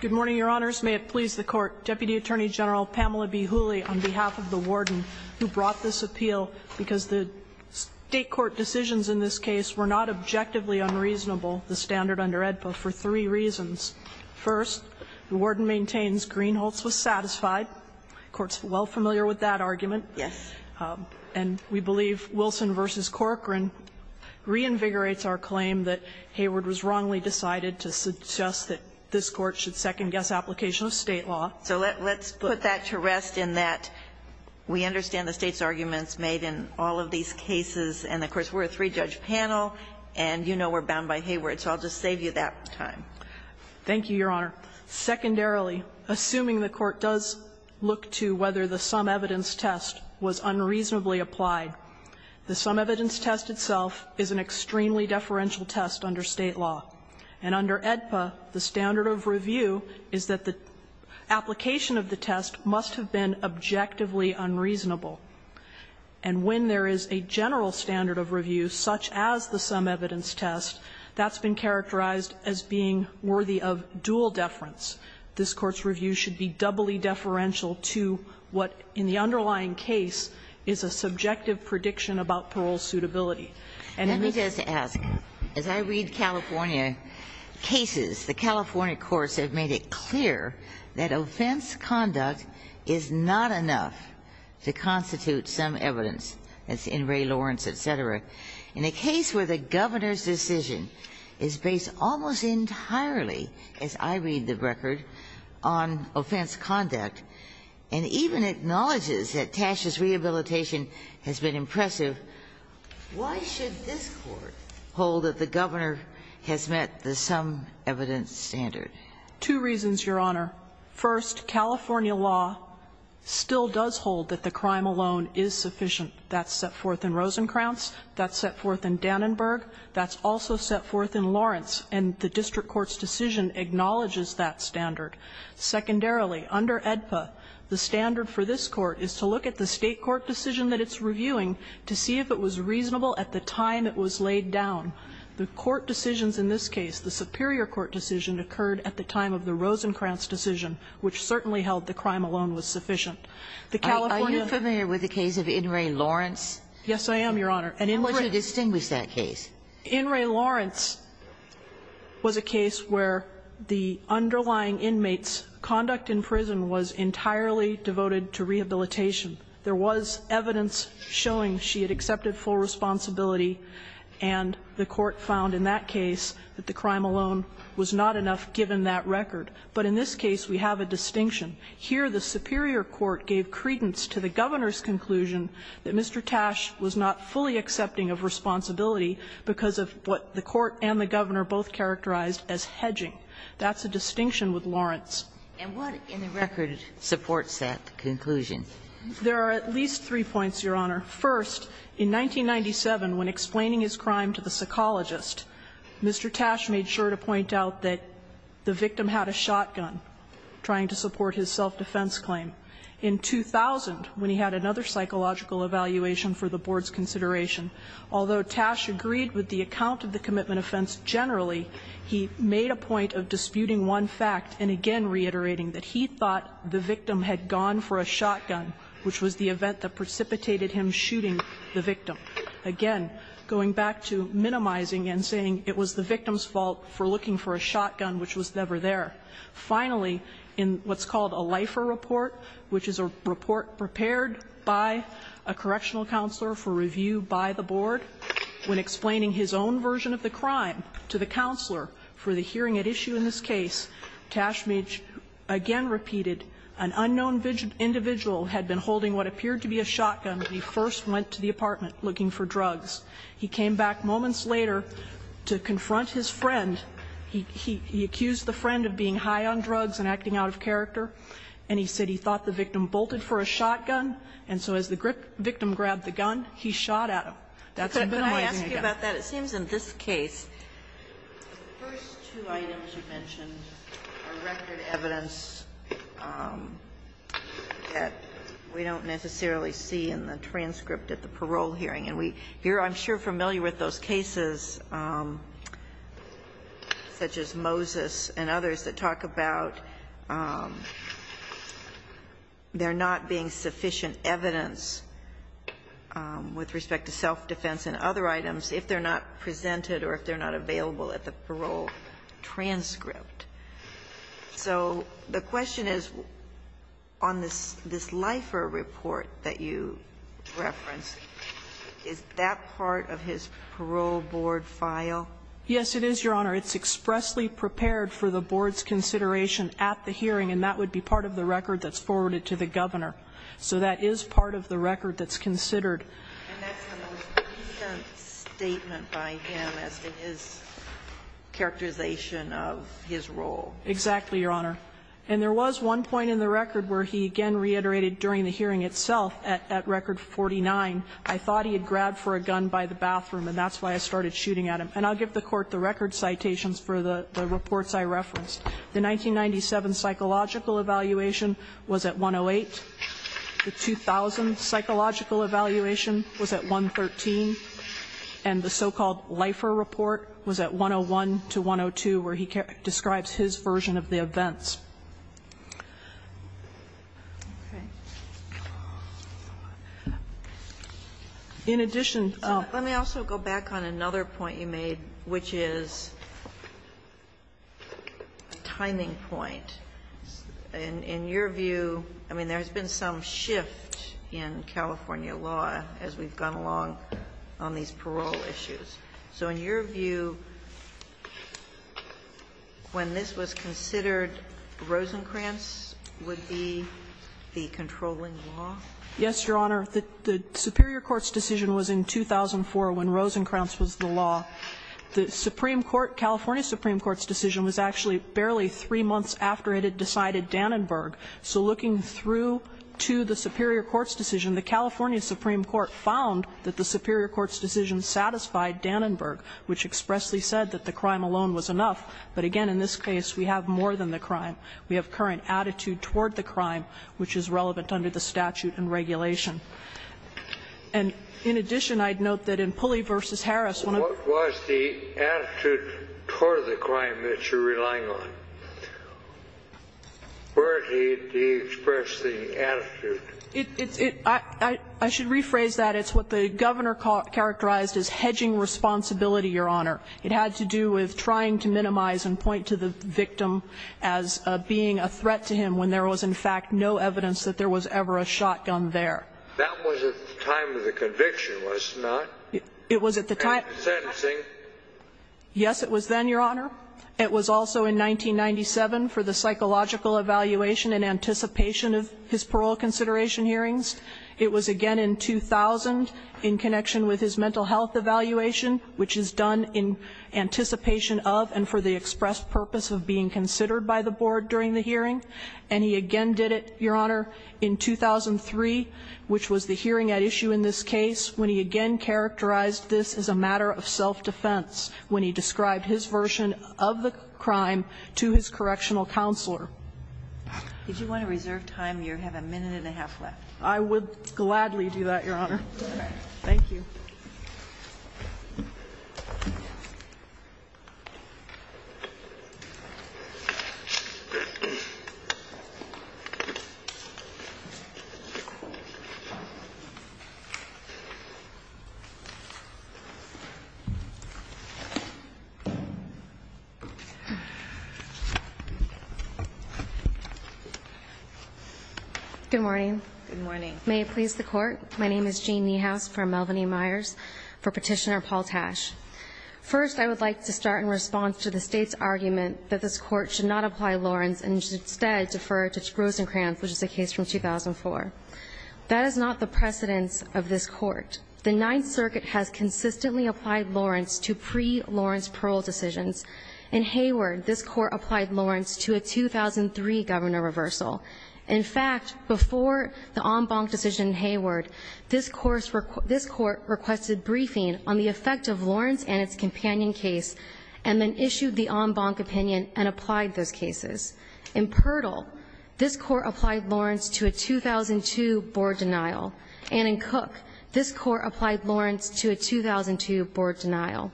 Good morning, Your Honors. May it please the Court. Deputy Attorney General Pamela B. Hooley, on behalf of the Warden, who brought this appeal because the State Court decisions in this case were not objectively unreasonable, the standard under AEDPA, for three reasons. First, the Warden maintains Greenholtz was satisfied. The Court's well familiar with that argument. Yes. And we believe Wilson v. Corcoran reinvigorates our claim that Hayward was wrongly decided to suggest that this Court should second-guess application of State law. So let's put that to rest in that we understand the State's arguments made in all of these cases, and, of course, we're a three-judge panel, and you know we're bound by Hayward, so I'll just save you that time. Thank you, Your Honor. Secondarily, assuming the Court does look to whether the sum evidence test was unreasonably applied, the sum evidence test itself is an extremely deferential test under State law. And under AEDPA, the standard of review is that the application of the test must have been objectively unreasonable. And when there is a general standard of review, such as the sum evidence test, that's been characterized as being worthy of dual deference. This Court's review should be doubly deferential to what in the underlying case is a subjective prediction about parole suitability. And in this case, the California courts have made it clear that offense conduct is not enough to constitute sum evidence, as in Ray Lawrence, et cetera. In a case where the governor's decision is based almost entirely, as I read the record, on offense conduct, and even acknowledges that Tasha's rehabilitation has been impressive, why should this Court hold that the governor has met the sum evidence standard? Two reasons, Your Honor. First, California law still does hold that the crime alone is sufficient. That's set forth in Rosenkranz. That's set forth in Dannenberg. That's also set forth in Lawrence. And the district court's decision acknowledges that standard. Secondarily, under AEDPA, the standard for this Court is to look at the State court decision that it's reviewing to see if it was reasonable at the time it was laid down. The court decisions in this case, the superior court decision, occurred at the time of the Rosenkranz decision, which certainly held the crime alone was sufficient. The California case was a case where the underlying inmate's conduct in prison was entirely devoted to rehabilitation. There was evidence showing she had accepted full responsibility, and the court found in that case that the crime alone was not enough, given that record. But in this case, we have a distinction. Here, the superior court gave credence to the governor's conclusion that Mr. Tash was not fully accepting of responsibility because of what the court and the governor both characterized as hedging. That's a distinction with Lawrence. Ginsburg. And what in the record supports that conclusion? There are at least three points, Your Honor. First, in 1997, when explaining his crime to the psychologist, Mr. Tash made sure to point out that the victim had a shotgun, trying to support his self-defense claim. In 2000, when he had another psychological evaluation for the board's consideration, although Tash agreed with the account of the commitment offense generally, he made a point of disputing one fact and again reiterating that he thought the victim had gone for a shotgun, which was the event that precipitated him shooting the victim. Again, going back to minimizing and saying it was the victim's fault for looking for a shotgun, which was never there. Finally, in what's called a LIFER report, which is a report prepared by a correctional counselor for review by the board, when explaining his own version of the crime to the counselor for the hearing at issue in this case, Tash made, again repeated, an unknown individual had been holding what appeared to be a shotgun when he first went to the apartment looking for drugs. He came back moments later to confront his friend. He accused the friend of being high on drugs and acting out of character, and he said he thought the victim bolted for a shotgun, and so as the victim grabbed the gun, he shot at him. That's minimizing again. It seems in this case, the first two items you mentioned are record evidence that we don't necessarily see in the transcript at the parole hearing. And we're, I'm sure, familiar with those cases, such as Moses and others, that talk about there not being sufficient evidence with respect to self-defense and other items if they're not presented or if they're not available at the parole transcript. So the question is, on this LIFER report that you referenced, is that part of his parole board file? Yes, it is, Your Honor. It's expressly prepared for the board's consideration at the hearing, and that would be part of the record that's forwarded to the governor. So that is part of the record that's considered. And that's the most recent statement by him as to his characterization of his role. Exactly, Your Honor. And there was one point in the record where he again reiterated during the hearing itself at record 49, I thought he had grabbed for a gun by the bathroom, and that's why I started shooting at him. And I'll give the Court the record citations for the reports I referenced. The 1997 psychological evaluation was at 108. The 2000 psychological evaluation was at 113. And the so-called LIFER report was at 101 to 102, where he describes his version of the events. In addition to that, let me also go back on another point you made, which is a timing point. In your view, I mean, there has been some shift in California law as we've gone along on these parole issues. So in your view, when this was considered, Rosenkranz would be the controlling law? Yes, Your Honor. The superior court's decision was in 2004 when Rosenkranz was the law. The Supreme Court, California Supreme Court's decision was actually barely three months after it had decided Dannenberg. So looking through to the superior court's decision, the California Supreme Court found that the superior court's decision satisfied Dannenberg, which expressly said that the crime alone was enough. But again, in this case, we have more than the crime. We have current attitude toward the crime, which is relevant under the statute and regulation. And in addition, I'd note that in Pulley v. Harris, one of the What was the attitude toward the crime that you're relying on? Where did he express the attitude? I should rephrase that. It's what the governor characterized as hedging responsibility, Your Honor. It had to do with trying to minimize and point to the victim as being a threat to him when there was, in fact, no evidence that there was ever a shotgun there. That was at the time of the conviction, was it not? It was at the time. Sentencing. Yes, it was then, Your Honor. It was also in 1997 for the psychological evaluation and anticipation of his parole consideration hearings. It was again in 2000 in connection with his mental health evaluation, which is done in anticipation of and for the express purpose of being considered by the board during the hearing. And he again did it, Your Honor, in 2003, which was the hearing at issue in this case, when he again characterized this as a matter of self-defense, when he described his version of the crime to his correctional counselor. If you want to reserve time, you have a minute and a half left. I would gladly do that, Your Honor. Thank you. Good morning. Good morning. My name is Jean Niehaus from Melvin E. Myers for Petitioner Paul Tash. First, I would like to start in response to the state's argument that this court should not apply Lawrence and should instead defer to Rosencrantz, which is a case from 2004. That is not the precedence of this court. The Ninth Circuit has consistently applied Lawrence to pre-Lawrence parole decisions. In Hayward, this court applied Lawrence to a 2003 governor reversal. In fact, before the en banc decision in Hayward, this court requested briefing on the effect of Lawrence and its companion case and then issued the en banc opinion and applied those cases. In Purdall, this court applied Lawrence to a 2002 board denial. And in Cook, this court applied Lawrence to a 2002 board denial.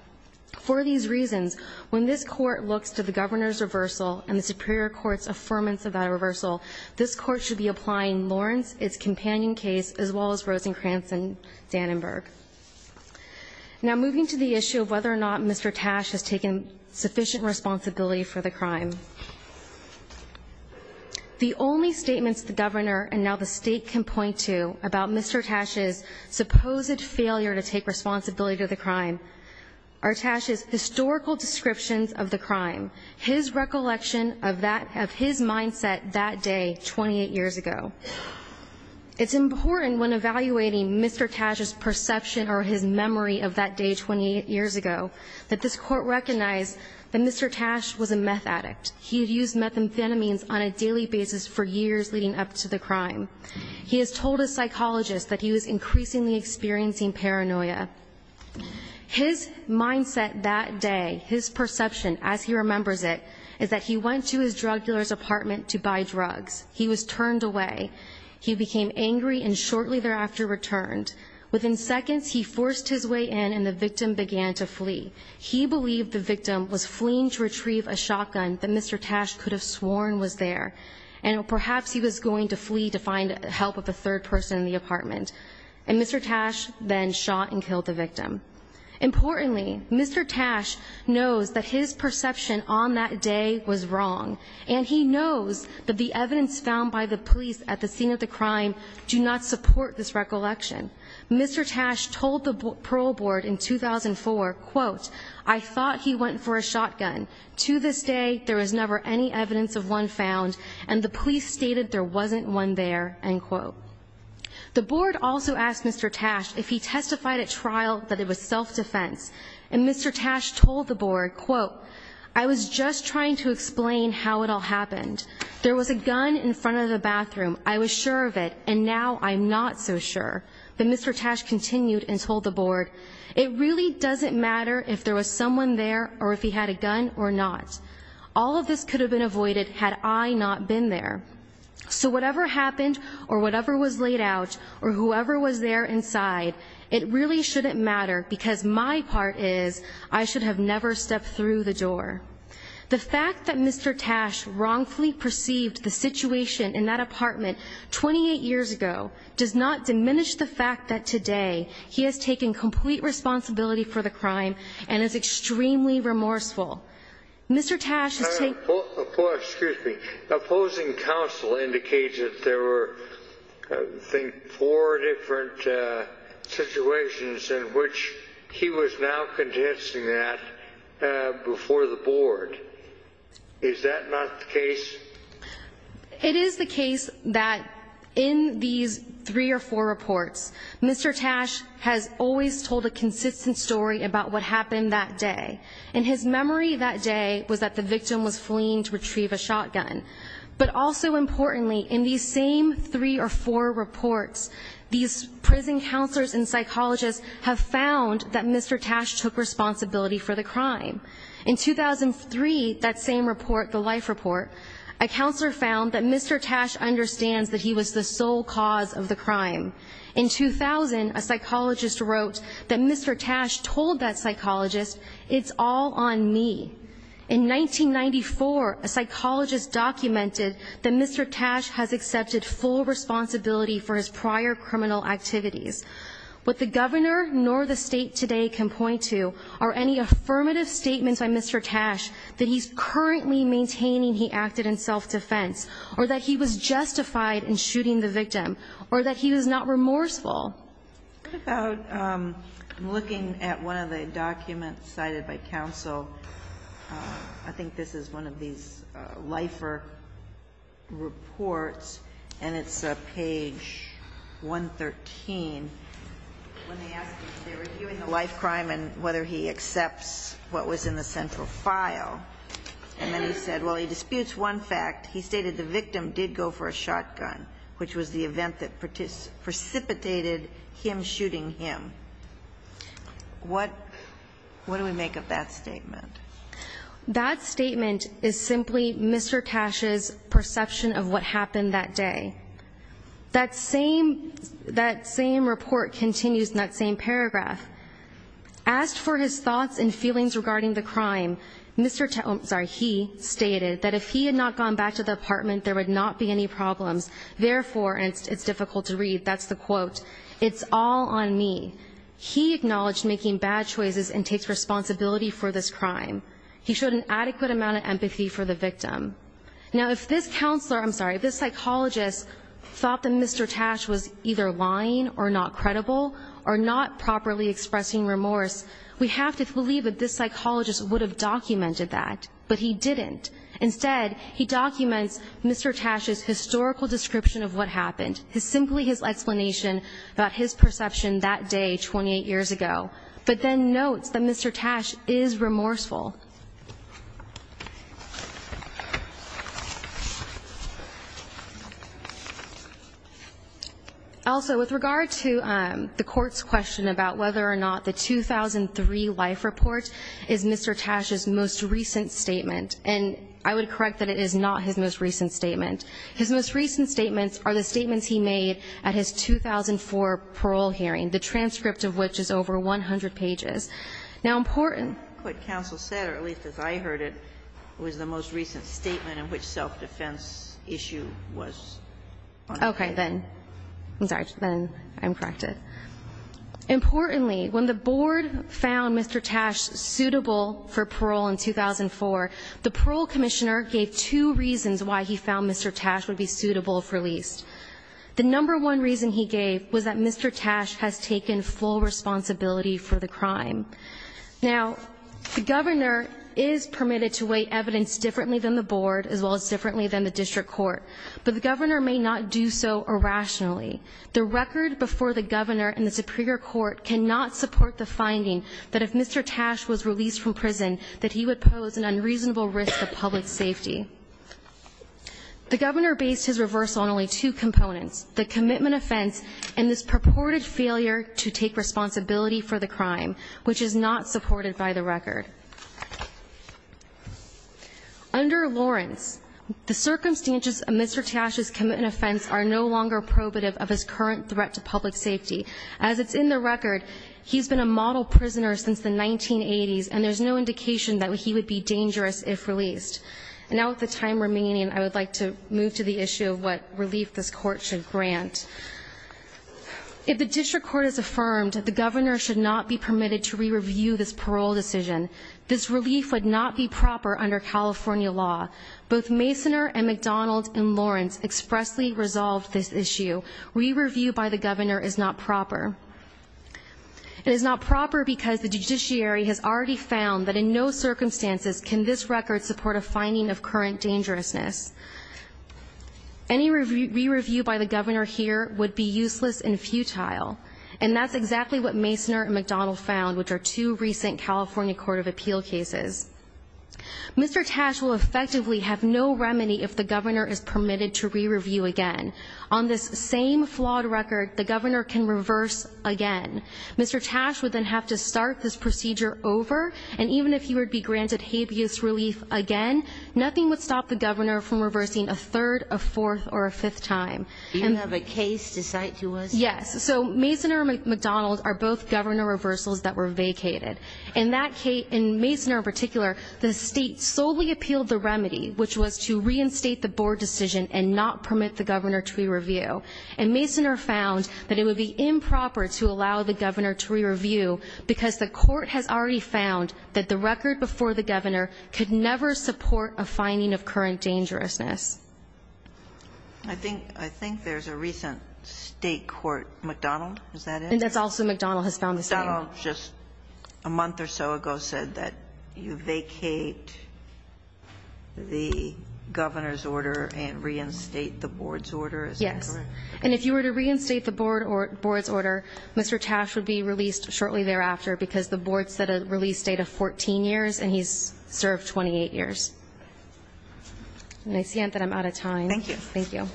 For these reasons, when this court looks to the governor's reversal and the superior court's affirmance of that reversal, this court should be applying Lawrence, its companion case, as well as Rosencrantz and Dannenberg. Now moving to the issue of whether or not Mr. Tash has taken sufficient responsibility for the crime. The only statements the governor and now the state can point to about Mr. Tash's supposed failure to take responsibility to the crime are Tash's historical descriptions of the crime. His recollection of his mindset that day, 28 years ago. It's important when evaluating Mr. Tash's perception or his memory of that day, 28 years ago, that this court recognize that Mr. Tash was a meth addict. He had used methamphetamines on a daily basis for years leading up to the crime. He has told his psychologist that he was increasingly experiencing paranoia. His mindset that day, his perception as he remembers it, is that he went to his drug dealer's apartment to buy drugs. He was turned away. He became angry and shortly thereafter returned. Within seconds, he forced his way in and the victim began to flee. He believed the victim was fleeing to retrieve a shotgun that Mr. Tash could have sworn was there. And perhaps he was going to flee to find help with a third person in the apartment. And Mr. Tash then shot and killed the victim. Importantly, Mr. Tash knows that his perception on that day was wrong. And he knows that the evidence found by the police at the scene of the crime do not support this recollection. Mr. Tash told the parole board in 2004, quote, I thought he went for a shotgun. To this day, there is never any evidence of one found, and the police stated there wasn't one there, end quote. The board also asked Mr. Tash if he testified at trial that it was self-defense. And Mr. Tash told the board, quote, I was just trying to explain how it all happened. There was a gun in front of the bathroom. I was sure of it, and now I'm not so sure. But Mr. Tash continued and told the board, it really doesn't matter if there was someone there or if he had a gun or not. All of this could have been avoided had I not been there. So whatever happened, or whatever was laid out, or whoever was there inside, it really shouldn't matter because my part is I should have never stepped through the door. The fact that Mr. Tash wrongfully perceived the situation in that apartment 28 years ago does not diminish the fact that today he has taken complete responsibility for the crime and is extremely remorseful. Mr. Tash has taken- Excuse me. Opposing counsel indicated there were, I think, four different situations in which he was now condensing that before the board. Is that not the case? It is the case that in these three or four reports, Mr. Tash has always told a consistent story about what happened that day. And his memory that day was that the victim was fleeing to retrieve a shotgun. But also importantly, in these same three or four reports, these prison counselors and psychologists have found that Mr. Tash took responsibility for the crime. In 2003, that same report, the life report, a counselor found that Mr. Tash understands that he was the sole cause of the crime. In 2000, a psychologist wrote that Mr. Tash told that psychologist, it's all on me. In 1994, a psychologist documented that Mr. Tash has accepted full responsibility for his prior criminal activities. What the governor nor the state today can point to are any affirmative statements by Mr. Tash that he's currently maintaining he acted in self-defense, or that he was justified in shooting the victim, or that he was not remorseful. What about, I'm looking at one of the documents cited by counsel. I think this is one of these LIFER reports, and it's page 113, when they ask if they were viewing the life crime and whether he accepts what was in the central file. And then he said, well, he disputes one fact. He stated the victim did go for a shotgun, which was the event that precipitated him shooting him. What do we make of that statement? That statement is simply Mr. Tash's perception of what happened that day. That same report continues in that same paragraph. Asked for his thoughts and feelings regarding the crime, Mr. Tash, I'm sorry, he stated that if he had not gone back to the apartment, there would not be any problems. Therefore, and it's difficult to read, that's the quote, it's all on me. He acknowledged making bad choices and takes responsibility for this crime. He showed an adequate amount of empathy for the victim. Now if this psychologist thought that Mr. Tash was either lying or not credible or not properly expressing remorse, we have to believe that this psychologist would have documented that. But he didn't. Instead, he documents Mr. Tash's historical description of what happened. It's simply his explanation about his perception that day, 28 years ago. But then notes that Mr. Tash is remorseful. Also, with regard to the court's question about whether or not the 2003 life report is Mr. Tash's most recent statement. And I would correct that it is not his most recent statement. His most recent statements are the statements he made at his 2004 parole hearing, the transcript of which is over 100 pages. Now important- What counsel said, or at least as I heard it, was the most recent statement in which self-defense issue was on the record. Okay, then, I'm sorry, then I'm corrected. Importantly, when the board found Mr. Tash suitable for parole in 2004, the parole commissioner gave two reasons why he found Mr. Tash would be suitable for release. The number one reason he gave was that Mr. Tash has taken full responsibility for the crime. Now, the governor is permitted to weigh evidence differently than the board, as well as differently than the district court. But the governor may not do so irrationally. The record before the governor and the superior court cannot support the finding that if Mr. Tash was released from prison, that he would pose an unreasonable risk of public safety. The governor based his reversal on only two components, the commitment offense and this purported failure to take responsibility for the crime, which is not supported by the record. Under Lawrence, the circumstances of Mr. Tash's commitment offense are no longer probative of his current threat to public safety. As it's in the record, he's been a model prisoner since the 1980s, and there's no indication that he would be dangerous if released. Now with the time remaining, I would like to move to the issue of what relief this court should grant. If the district court is affirmed, the governor should not be permitted to re-review this parole decision. This relief would not be proper under California law. Both Masoner and McDonald and Lawrence expressly resolved this issue. Re-review by the governor is not proper. It is not proper because the judiciary has already found that in no circumstances can this record support a finding of current dangerousness. Any re-review by the governor here would be useless and futile. And that's exactly what Masoner and McDonald found, which are two recent California Court of Appeal cases. Mr. Tash will effectively have no remedy if the governor is permitted to re-review again. On this same flawed record, the governor can reverse again. Mr. Tash would then have to start this procedure over, and even if he would be granted habeas relief again, nothing would stop the governor from reversing a third, a fourth, or a fifth time. Do you have a case to cite to us? Yes, so Masoner and McDonald are both governor reversals that were vacated. In Masoner in particular, the state solely appealed the remedy, which was to reinstate the board decision and not permit the governor to re-review. And Masoner found that it would be improper to allow the governor to re-review because the court has already found that the record before the governor could never support a finding of current dangerousness. I think there's a recent state court, McDonald, is that it? And that's also McDonald has found the same. McDonald just a month or so ago said that you vacate the governor's order and reinstate the board's order, is that correct? And if you were to reinstate the board's order, Mr. Tash would be released shortly thereafter, because the board set a release date of 14 years, and he's served 28 years. And I see that I'm out of time. Thank you. Thank you.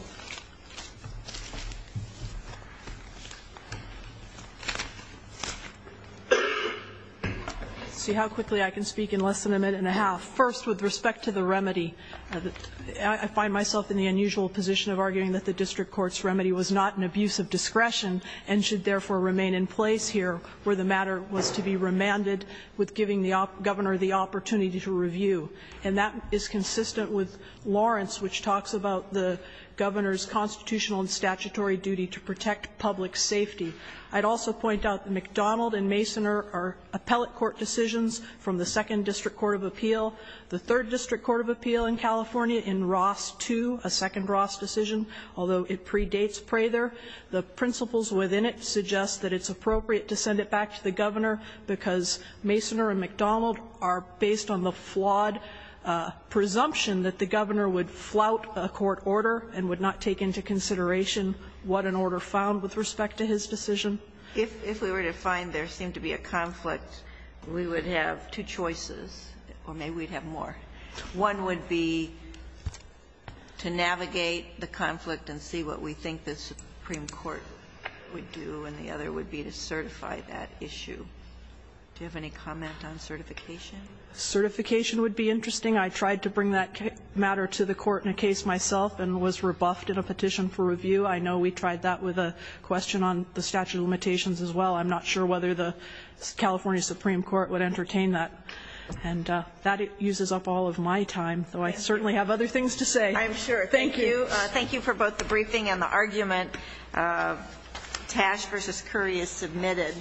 See how quickly I can speak in less than a minute and a half. First, with respect to the remedy, I find myself in the unusual position of arguing that the district court's remedy was not an abuse of discretion and should therefore remain in place here, where the matter was to be remanded with giving the governor the opportunity to review. And that is consistent with Lawrence, which talks about the governor's constitutional and statutory duty to protect public safety. I'd also point out that McDonald and Masoner are appellate court decisions from the second district court of appeal. The third district court of appeal in California in Ross 2, a second Ross decision, although it predates Prather, the principles within it suggest that it's appropriate to send it back to the governor because Masoner and McDonald are based on the flawed presumption that the governor would flout a court order and would not take into consideration what an order found with respect to his decision. If we were to find there seemed to be a conflict, we would have two choices, or maybe we'd have more. One would be to navigate the conflict and see what we think the Supreme Court would do, and the other would be to certify that issue. Do you have any comment on certification? Certification would be interesting. I tried to bring that matter to the court in a case myself and was rebuffed in a petition for review. I know we tried that with a question on the statute of limitations as well. I'm not sure whether the California Supreme Court would entertain that. And that uses up all of my time, though I certainly have other things to say. I'm sure. Thank you. Thank you for both the briefing and the argument. Tash versus Curry is submitted.